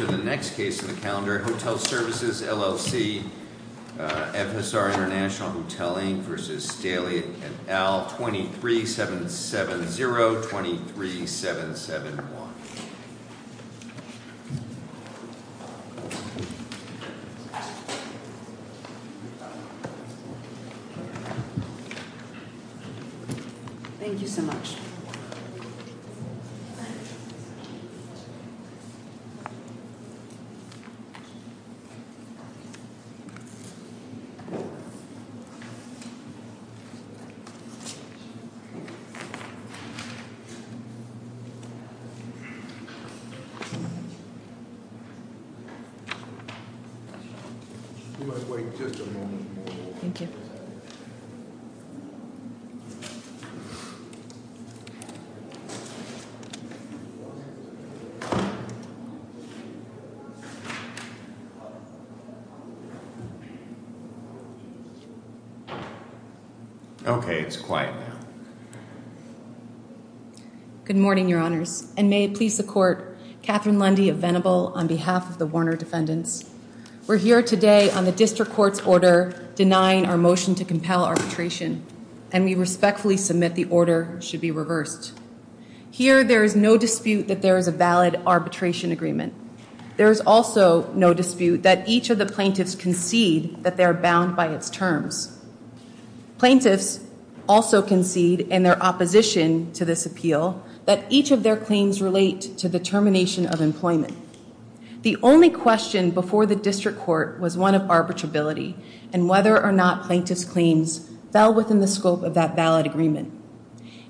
After the next case in the calendar, Hotel Services, LLC, FSR International Hotel, Inc. v. Staley et al., 23770-23771. Thank you so much. Thank you. Thank you. Okay, it's quiet now. Good morning, Your Honors, and may it please the Court, Kathryn Lundy of Venable on behalf of the Warner defendants. We're here today on the district court's order denying our motion to compel arbitration, and we respectfully submit the order should be reversed. Here, there is no dispute that there is a valid arbitration agreement. There is also no dispute that each of the plaintiffs concede that they are bound by its terms. Plaintiffs also concede in their opposition to this appeal that each of their claims relate to the termination of employment. The only question before the district court was one of arbitrability and whether or not plaintiffs' claims fell within the scope of that valid agreement.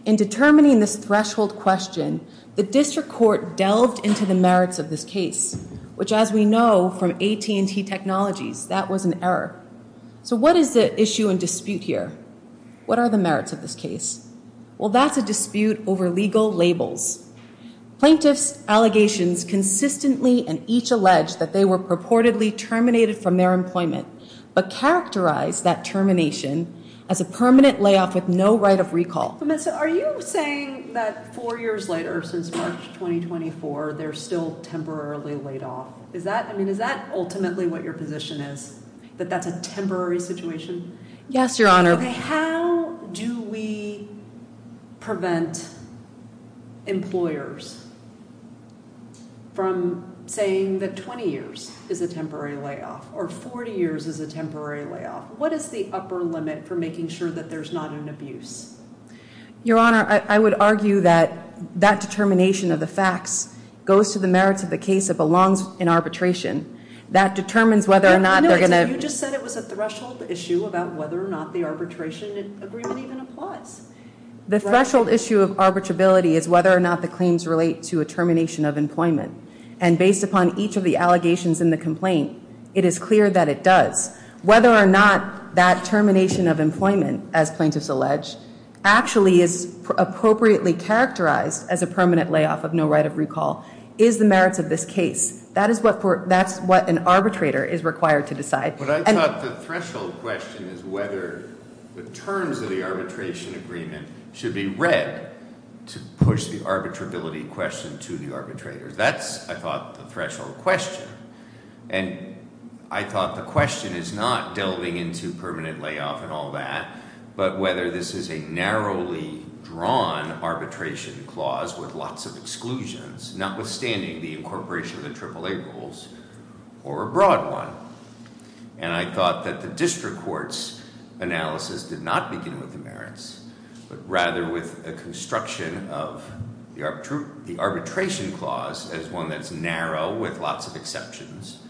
In determining this threshold question, the district court delved into the merits of this case, which as we know from AT&T Technologies, that was an error. So what is the issue and dispute here? What are the merits of this case? Well, that's a dispute over legal labels. Plaintiffs' allegations consistently and each allege that they were purportedly terminated from their employment, but characterize that termination as a permanent layoff with no right of recall. Vanessa, are you saying that four years later, since March 2024, they're still temporarily laid off? I mean, is that ultimately what your position is, that that's a temporary situation? Yes, Your Honor. How do we prevent employers from saying that 20 years is a temporary layoff or 40 years is a temporary layoff? What is the upper limit for making sure that there's not an abuse? Your Honor, I would argue that that determination of the facts goes to the merits of the case that belongs in arbitration. You just said it was a threshold issue about whether or not the arbitration agreement even applies. The threshold issue of arbitrability is whether or not the claims relate to a termination of employment. And based upon each of the allegations in the complaint, it is clear that it does. Whether or not that termination of employment, as plaintiffs allege, actually is appropriately characterized as a permanent layoff of no right of recall is the merits of this case. That is what an arbitrator is required to decide. But I thought the threshold question is whether the terms of the arbitration agreement should be read to push the arbitrability question to the arbitrator. That's, I thought, the threshold question. And I thought the question is not delving into permanent layoff and all that, but whether this is a narrowly drawn arbitration clause with lots of exclusions, notwithstanding the incorporation of the AAA rules or a broad one. And I thought that the district court's analysis did not begin with the merits, but rather with a construction of the arbitration clause as one that's narrow with lots of exceptions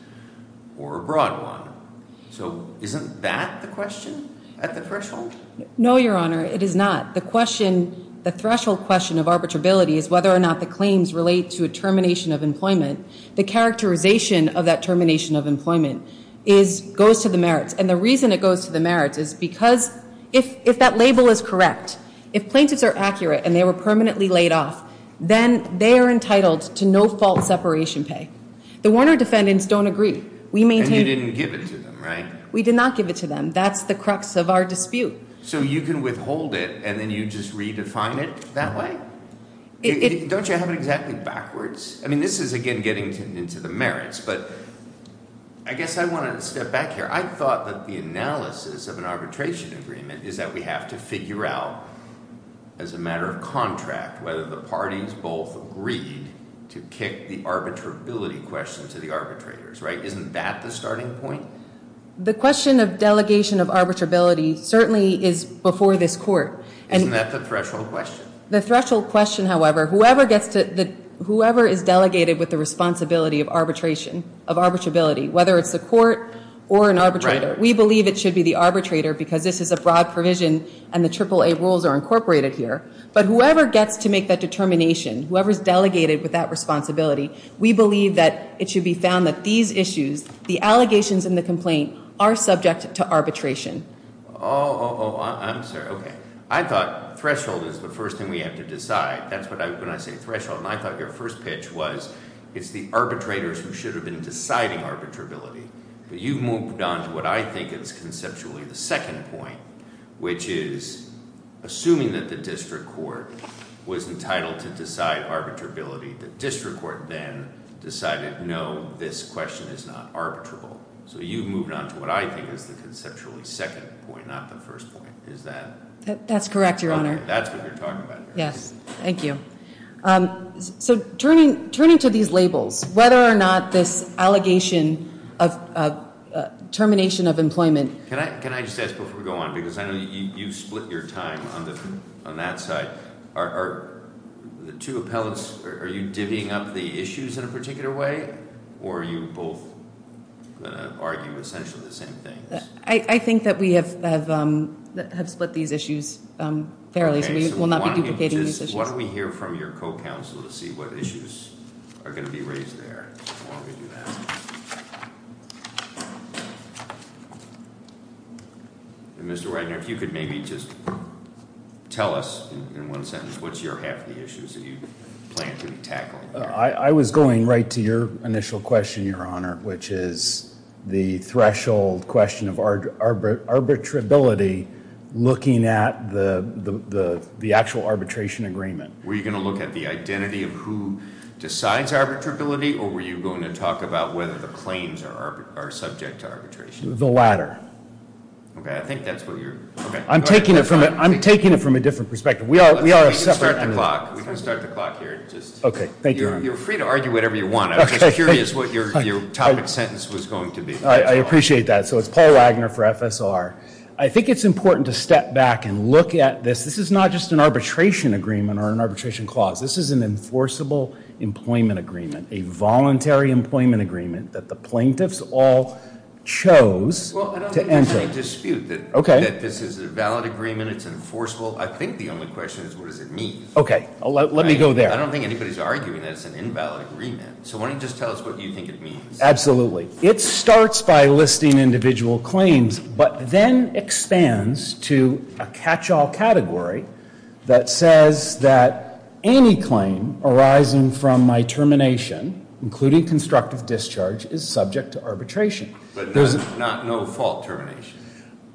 or a broad one. So isn't that the question at the threshold? No, Your Honor, it is not. The threshold question of arbitrability is whether or not the claims relate to a termination of employment. The characterization of that termination of employment goes to the merits. And the reason it goes to the merits is because if that label is correct, if plaintiffs are accurate and they were permanently laid off, then they are entitled to no fault separation pay. The Warner defendants don't agree. And you didn't give it to them, right? We did not give it to them. That's the crux of our dispute. So you can withhold it and then you just redefine it that way? Don't you have it exactly backwards? I mean, this is, again, getting into the merits. But I guess I want to step back here. I thought that the analysis of an arbitration agreement is that we have to figure out, as a matter of contract, whether the parties both agreed to kick the arbitrability question to the arbitrators, right? Isn't that the starting point? The question of delegation of arbitrability certainly is before this court. Isn't that the threshold question? The threshold question, however, whoever is delegated with the responsibility of arbitration, of arbitrability, whether it's the court or an arbitrator, we believe it should be the arbitrator because this is a broad provision and the AAA rules are incorporated here. But whoever gets to make that determination, whoever is delegated with that responsibility, we believe that it should be found that these issues, the allegations and the complaint, are subject to arbitration. Oh, I'm sorry. Okay. I thought threshold is the first thing we have to decide. That's when I say threshold. And I thought your first pitch was it's the arbitrators who should have been deciding arbitrability. But you've moved on to what I think is conceptually the second point, which is assuming that the district court was entitled to decide arbitrability, the district court then decided no, this question is not arbitrable. So you've moved on to what I think is the conceptually second point, not the first point. Is that- That's correct, Your Honor. Okay. That's what you're talking about here. Yes. Thank you. So turning to these labels, whether or not this allegation of termination of employment- Can I just ask before we go on, because I know you've split your time on that side. The two appellants, are you divvying up the issues in a particular way? Or are you both going to argue essentially the same thing? I think that we have split these issues fairly, so we will not be duplicating these issues. Why don't we hear from your co-counsel to see what issues are going to be raised there? Why don't we do that? Mr. Wagner, if you could maybe just tell us in one sentence, what's your half of the issues that you plan to tackle? I was going right to your initial question, Your Honor, which is the threshold question of arbitrability looking at the actual arbitration agreement. Were you going to look at the identity of who decides arbitrability, or were you going to talk about whether the claims are subject to arbitration? The latter. Okay. I think that's what you're- I'm taking it from a different perspective. We are a separate- We can start the clock. We can start the clock here. Okay. Thank you, Your Honor. You're free to argue whatever you want. I was just curious what your topic sentence was going to be. I appreciate that. So it's Paul Wagner for FSR. I think it's important to step back and look at this. This is not just an arbitration agreement or an arbitration clause. This is an enforceable employment agreement, a voluntary employment agreement that the plaintiffs all chose to enter. Well, I don't think there's any dispute that this is a valid agreement, it's enforceable. I think the only question is what does it mean. Okay. Let me go there. I don't think anybody's arguing that it's an invalid agreement. So why don't you just tell us what you think it means. Absolutely. It starts by listing individual claims, but then expands to a catch-all category that says that any claim arising from my termination, including constructive discharge, is subject to arbitration. But not no-fault termination.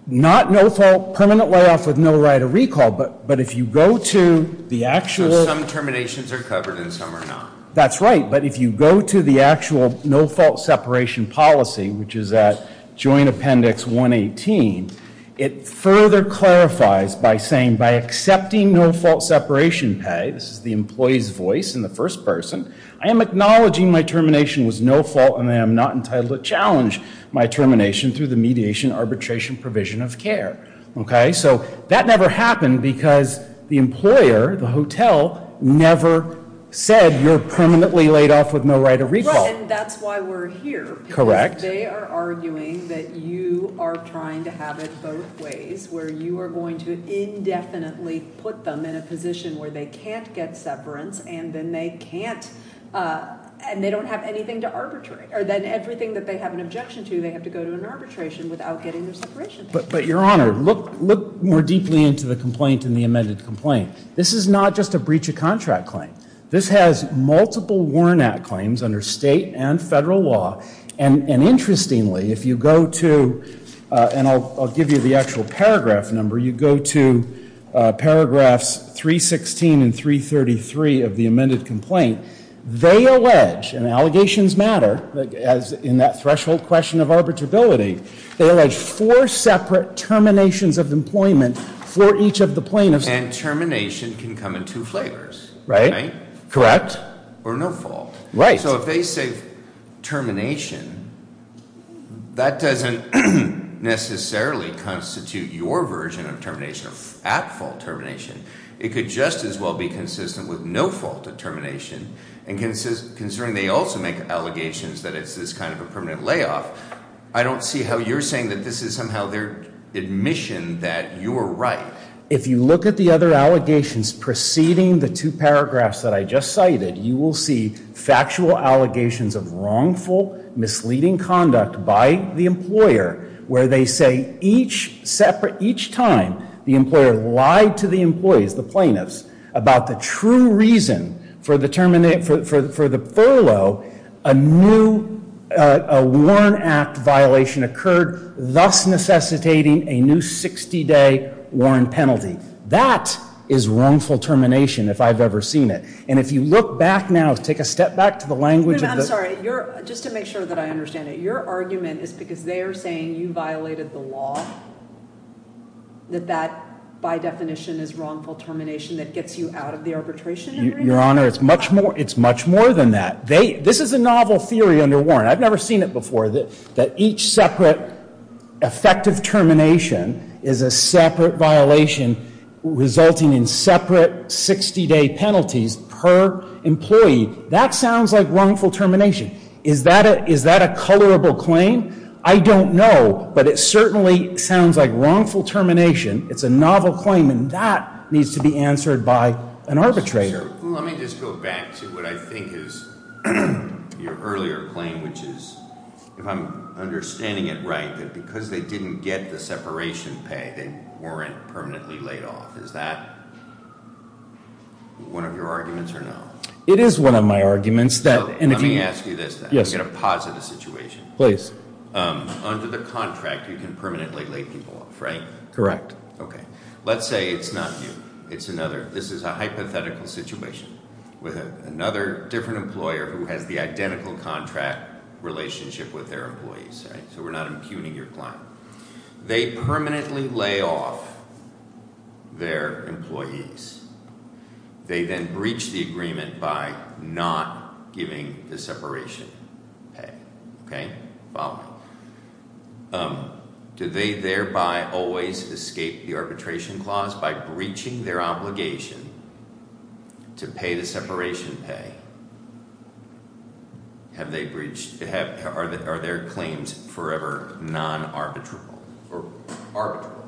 Not no-fault permanent layoff with no right of recall, but if you go to the actual- So some terminations are covered and some are not. That's right. But if you go to the actual no-fault separation policy, which is at Joint Appendix 118, it further clarifies by saying by accepting no-fault separation pay, this is the employee's voice and the first person, I am acknowledging my termination was no-fault and I am not entitled to challenge my termination through the mediation arbitration provision of care. Okay? So that never happened because the employer, the hotel, never said you're permanently laid off with no right of recall. Right, and that's why we're here. Correct. Because they are arguing that you are trying to have it both ways, where you are going to indefinitely put them in a position where they can't get separance, and then they can't, and they don't have anything to arbitrate. Or then everything that they have an objection to, they have to go to an arbitration without getting their separation pay. But, Your Honor, look more deeply into the complaint and the amended complaint. This is not just a breach of contract claim. This has multiple Warren Act claims under state and federal law, and interestingly, if you go to, and I'll give you the actual paragraph number, you go to paragraphs 316 and 333 of the amended complaint, they allege, and allegations matter in that threshold question of arbitrability, they allege four separate terminations of employment for each of the plaintiffs. And termination can come in two flavors. Right. Correct. Or no fault. Right. So if they say termination, that doesn't necessarily constitute your version of termination or at fault termination. It could just as well be consistent with no fault of termination, and considering they also make allegations that it's this kind of a permanent layoff, I don't see how you're saying that this is somehow their admission that you are right. If you look at the other allegations preceding the two paragraphs that I just cited, you will see factual allegations of wrongful, misleading conduct by the employer where they say each time the employer lied to the employees, the plaintiffs, about the true reason for the furlough, a new Warren Act violation occurred, thus necessitating a new 60-day Warren penalty. That is wrongful termination if I've ever seen it. And if you look back now, take a step back to the language of the – I'm sorry. Just to make sure that I understand it, your argument is because they are saying you violated the law, that that, by definition, is wrongful termination that gets you out of the arbitration agreement? Your Honor, it's much more than that. This is a novel theory under Warren. I've never seen it before, that each separate effective termination is a separate violation resulting in separate 60-day penalties per employee. That sounds like wrongful termination. Is that a colorable claim? I don't know, but it certainly sounds like wrongful termination. It's a novel claim, and that needs to be answered by an arbitrator. Let me just go back to what I think is your earlier claim, which is, if I'm understanding it right, that because they didn't get the separation pay, they weren't permanently laid off. Is that one of your arguments or no? It is one of my arguments. Let me ask you this, then. Yes. I'm going to posit a situation. Please. Under the contract, you can permanently lay people off, right? Correct. Okay. Let's say it's not you. It's another. This is a hypothetical situation with another different employer who has the identical contract relationship with their employees, right? So we're not impugning your client. They permanently lay off their employees. They then breach the agreement by not giving the separation pay. Okay? Follow me. Do they thereby always escape the arbitration clause by breaching their obligation to pay the separation pay? Are their claims forever non-arbitral or arbitral?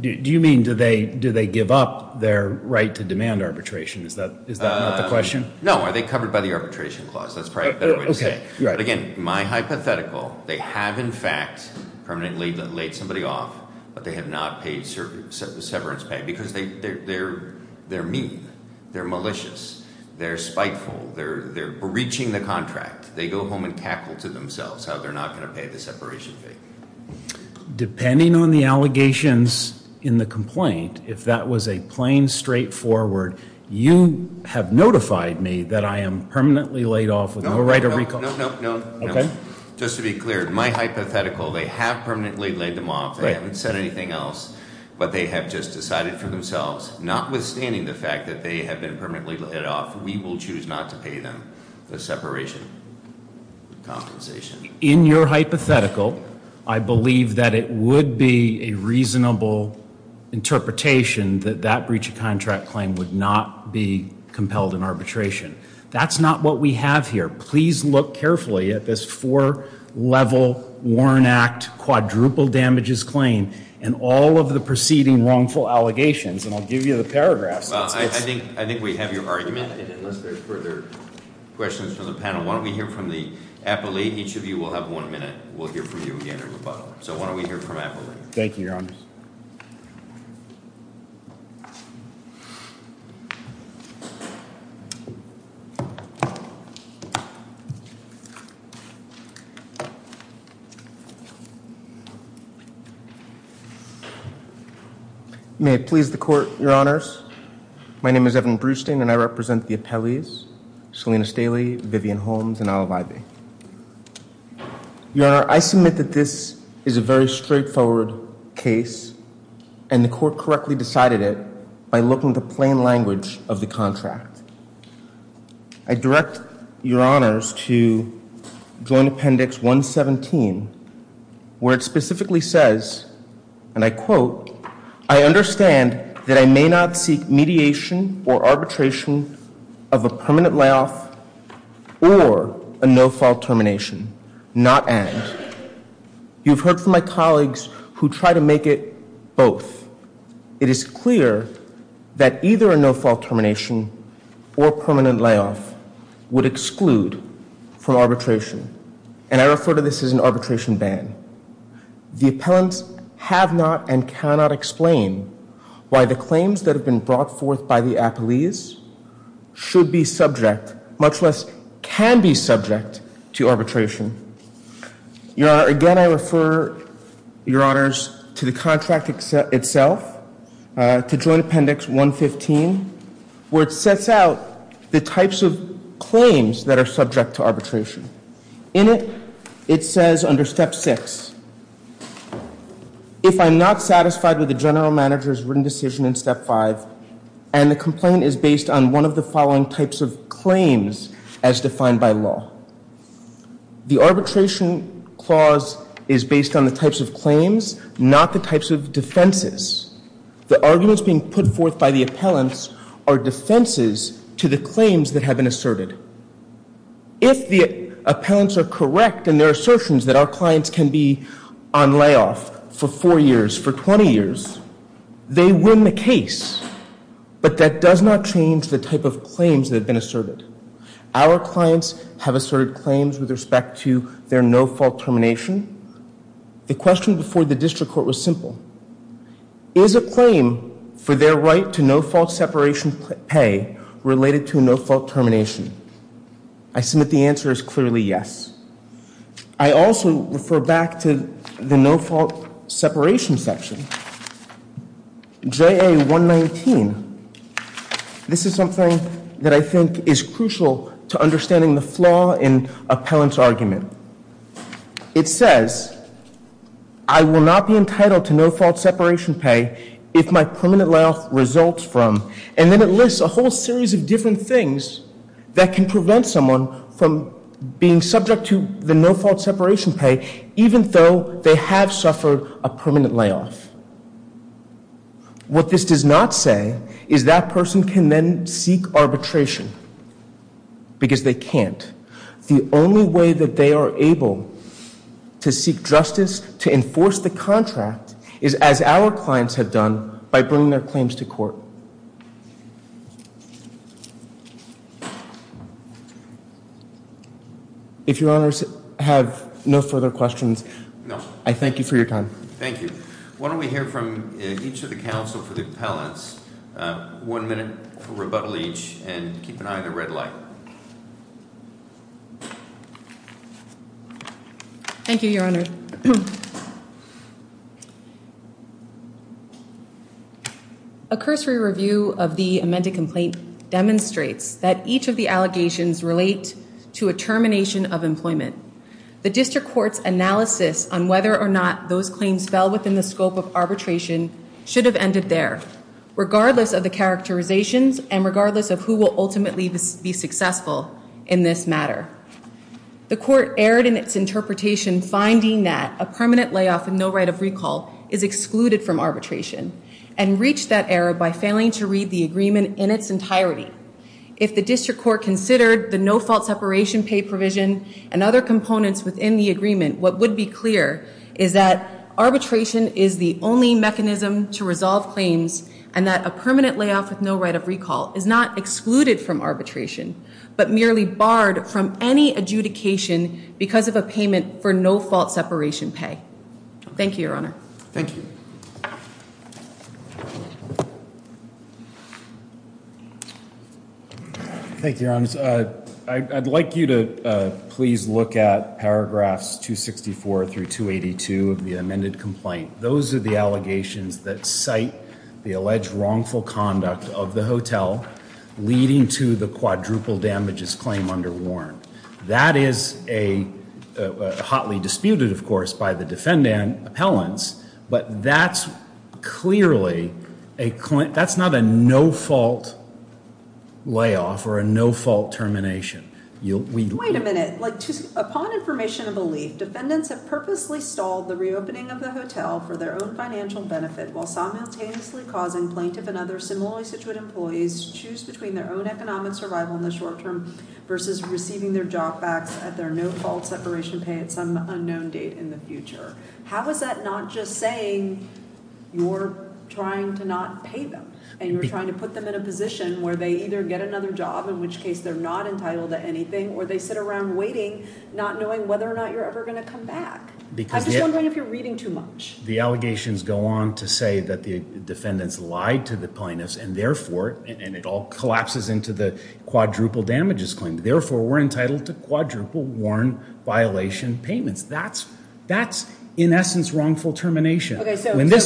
Do you mean do they give up their right to demand arbitration? Is that not the question? No. Are they covered by the arbitration clause? That's probably a better way to say it. Okay. Right. But, again, my hypothetical, they have, in fact, permanently laid somebody off, but they have not paid severance pay because they're mean. They're malicious. They're spiteful. They're breaching the contract. They go home and cackle to themselves how they're not going to pay the separation pay. Depending on the allegations in the complaint, if that was a plain, straightforward, you have notified me that I am permanently laid off with no right of recall. No, no, no, no. Okay. Just to be clear, my hypothetical, they have permanently laid them off. They haven't said anything else, but they have just decided for themselves, notwithstanding the fact that they have been permanently laid off, we will choose not to pay them the separation compensation. In your hypothetical, I believe that it would be a reasonable interpretation that that breach of contract claim would not be compelled in arbitration. That's not what we have here. Please look carefully at this four-level Warren Act quadruple damages claim and all of the preceding wrongful allegations, and I'll give you the paragraphs. Well, I think we have your argument, and unless there's further questions from the panel, why don't we hear from the appellate. Each of you will have one minute. We'll hear from you again at the bottom. So why don't we hear from appellate. Thank you, Your Honor. May it please the court, Your Honors. My name is Evan Brewstein, and I represent the appellees, Selena Staley, Vivian Holmes, and Olive Ivey. Your Honor, I submit that this is a very straightforward case, and the court correctly decided it by looking at the plain language of the contract. I direct Your Honors to Joint Appendix 117, where it specifically says, and I quote, I understand that I may not seek mediation or arbitration of a permanent layoff or a no-fault termination, not and. You've heard from my colleagues who try to make it both. It is clear that either a no-fault termination or permanent layoff would exclude from arbitration, and I refer to this as an arbitration ban. The appellants have not and cannot explain why the claims that have been brought forth by the appellees should be subject, much less can be subject, to arbitration. Your Honor, again I refer Your Honors to the contract itself, to Joint Appendix 115, where it sets out the types of claims that are subject to arbitration. In it, it says under Step 6, if I'm not satisfied with the general manager's written decision in Step 5, and the complaint is based on one of the following types of claims as defined by law. The arbitration clause is based on the types of claims, not the types of defenses. The arguments being put forth by the appellants are defenses to the claims that have been asserted. If the appellants are correct in their assertions that our clients can be on layoff for 4 years, for 20 years, they win the case. But that does not change the type of claims that have been asserted. Our clients have asserted claims with respect to their no-fault termination. The question before the district court was simple. Is a claim for their right to no-fault separation pay related to a no-fault termination? I submit the answer is clearly yes. I also refer back to the no-fault separation section. JA 119. This is something that I think is crucial to understanding the flaw in appellant's argument. It says, I will not be entitled to no-fault separation pay if my permanent layoff results from, and then it lists a whole series of different things that can prevent someone from being subject to the no-fault separation pay, even though they have suffered a permanent layoff. What this does not say is that person can then seek arbitration because they can't. The only way that they are able to seek justice, to enforce the contract, is as our clients have done by bringing their claims to court. If your honors have no further questions, I thank you for your time. Thank you. Why don't we hear from each of the counsel for the appellants. One minute for rebuttal each and keep an eye on the red light. Thank you, your honor. Thank you. A cursory review of the amended complaint demonstrates that each of the allegations relate to a termination of employment. The district court's analysis on whether or not those claims fell within the scope of arbitration should have ended there, regardless of the characterizations and regardless of who will ultimately be successful in this matter. The court erred in its interpretation finding that a permanent layoff with no right of recall is excluded from arbitration and reached that error by failing to read the agreement in its entirety. If the district court considered the no-fault separation pay provision and other components within the agreement, what would be clear is that arbitration is the only mechanism to resolve claims and that a permanent layoff with no right of recall is not excluded from arbitration, but merely barred from any adjudication because of a payment for no-fault separation pay. Thank you, your honor. Thank you. Thank you, your honors. I'd like you to please look at paragraphs 264 through 282 of the amended complaint. Those are the allegations that cite the alleged wrongful conduct of the hotel, leading to the quadruple damages claim under Warren. That is a hotly disputed, of course, by the defendant appellants, but that's clearly a, that's not a no-fault layoff or a no-fault termination. Wait a minute. Upon information of belief, defendants have purposely stalled the reopening of the hotel for their own financial benefit while simultaneously causing plaintiff and other similarly situated employees to choose between their own economic survival in the short term versus receiving their job backs at their no-fault separation pay at some unknown date in the future. How is that not just saying you're trying to not pay them and you're trying to put them in a position where they either get another job, in which case they're not entitled to anything, or they sit around waiting, not knowing whether or not you're ever going to come back? I'm just wondering if you're reading too much. The allegations go on to say that the defendants lied to the plaintiffs and therefore, and it all collapses into the quadruple damages claim, therefore we're entitled to quadruple Warren violation payments. That's in essence wrongful termination. Basically,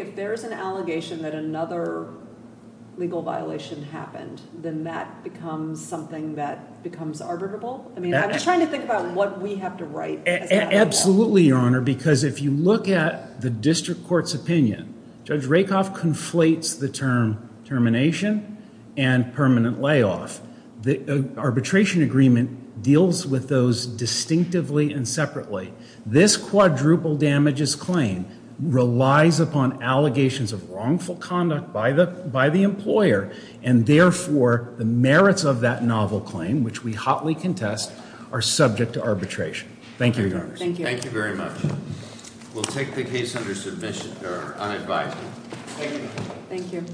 if there's an allegation that another legal violation happened, then that becomes something that becomes arbitrable? I'm just trying to think about what we have to write. Absolutely, Your Honor, because if you look at the district court's opinion, Judge Rakoff conflates the term termination and permanent layoff. This quadruple damages claim relies upon allegations of wrongful conduct by the employer and therefore, the merits of that novel claim, which we hotly contest, are subject to arbitration. Thank you, Your Honor. Thank you very much. We'll take the case under submission, or unadvised. Thank you.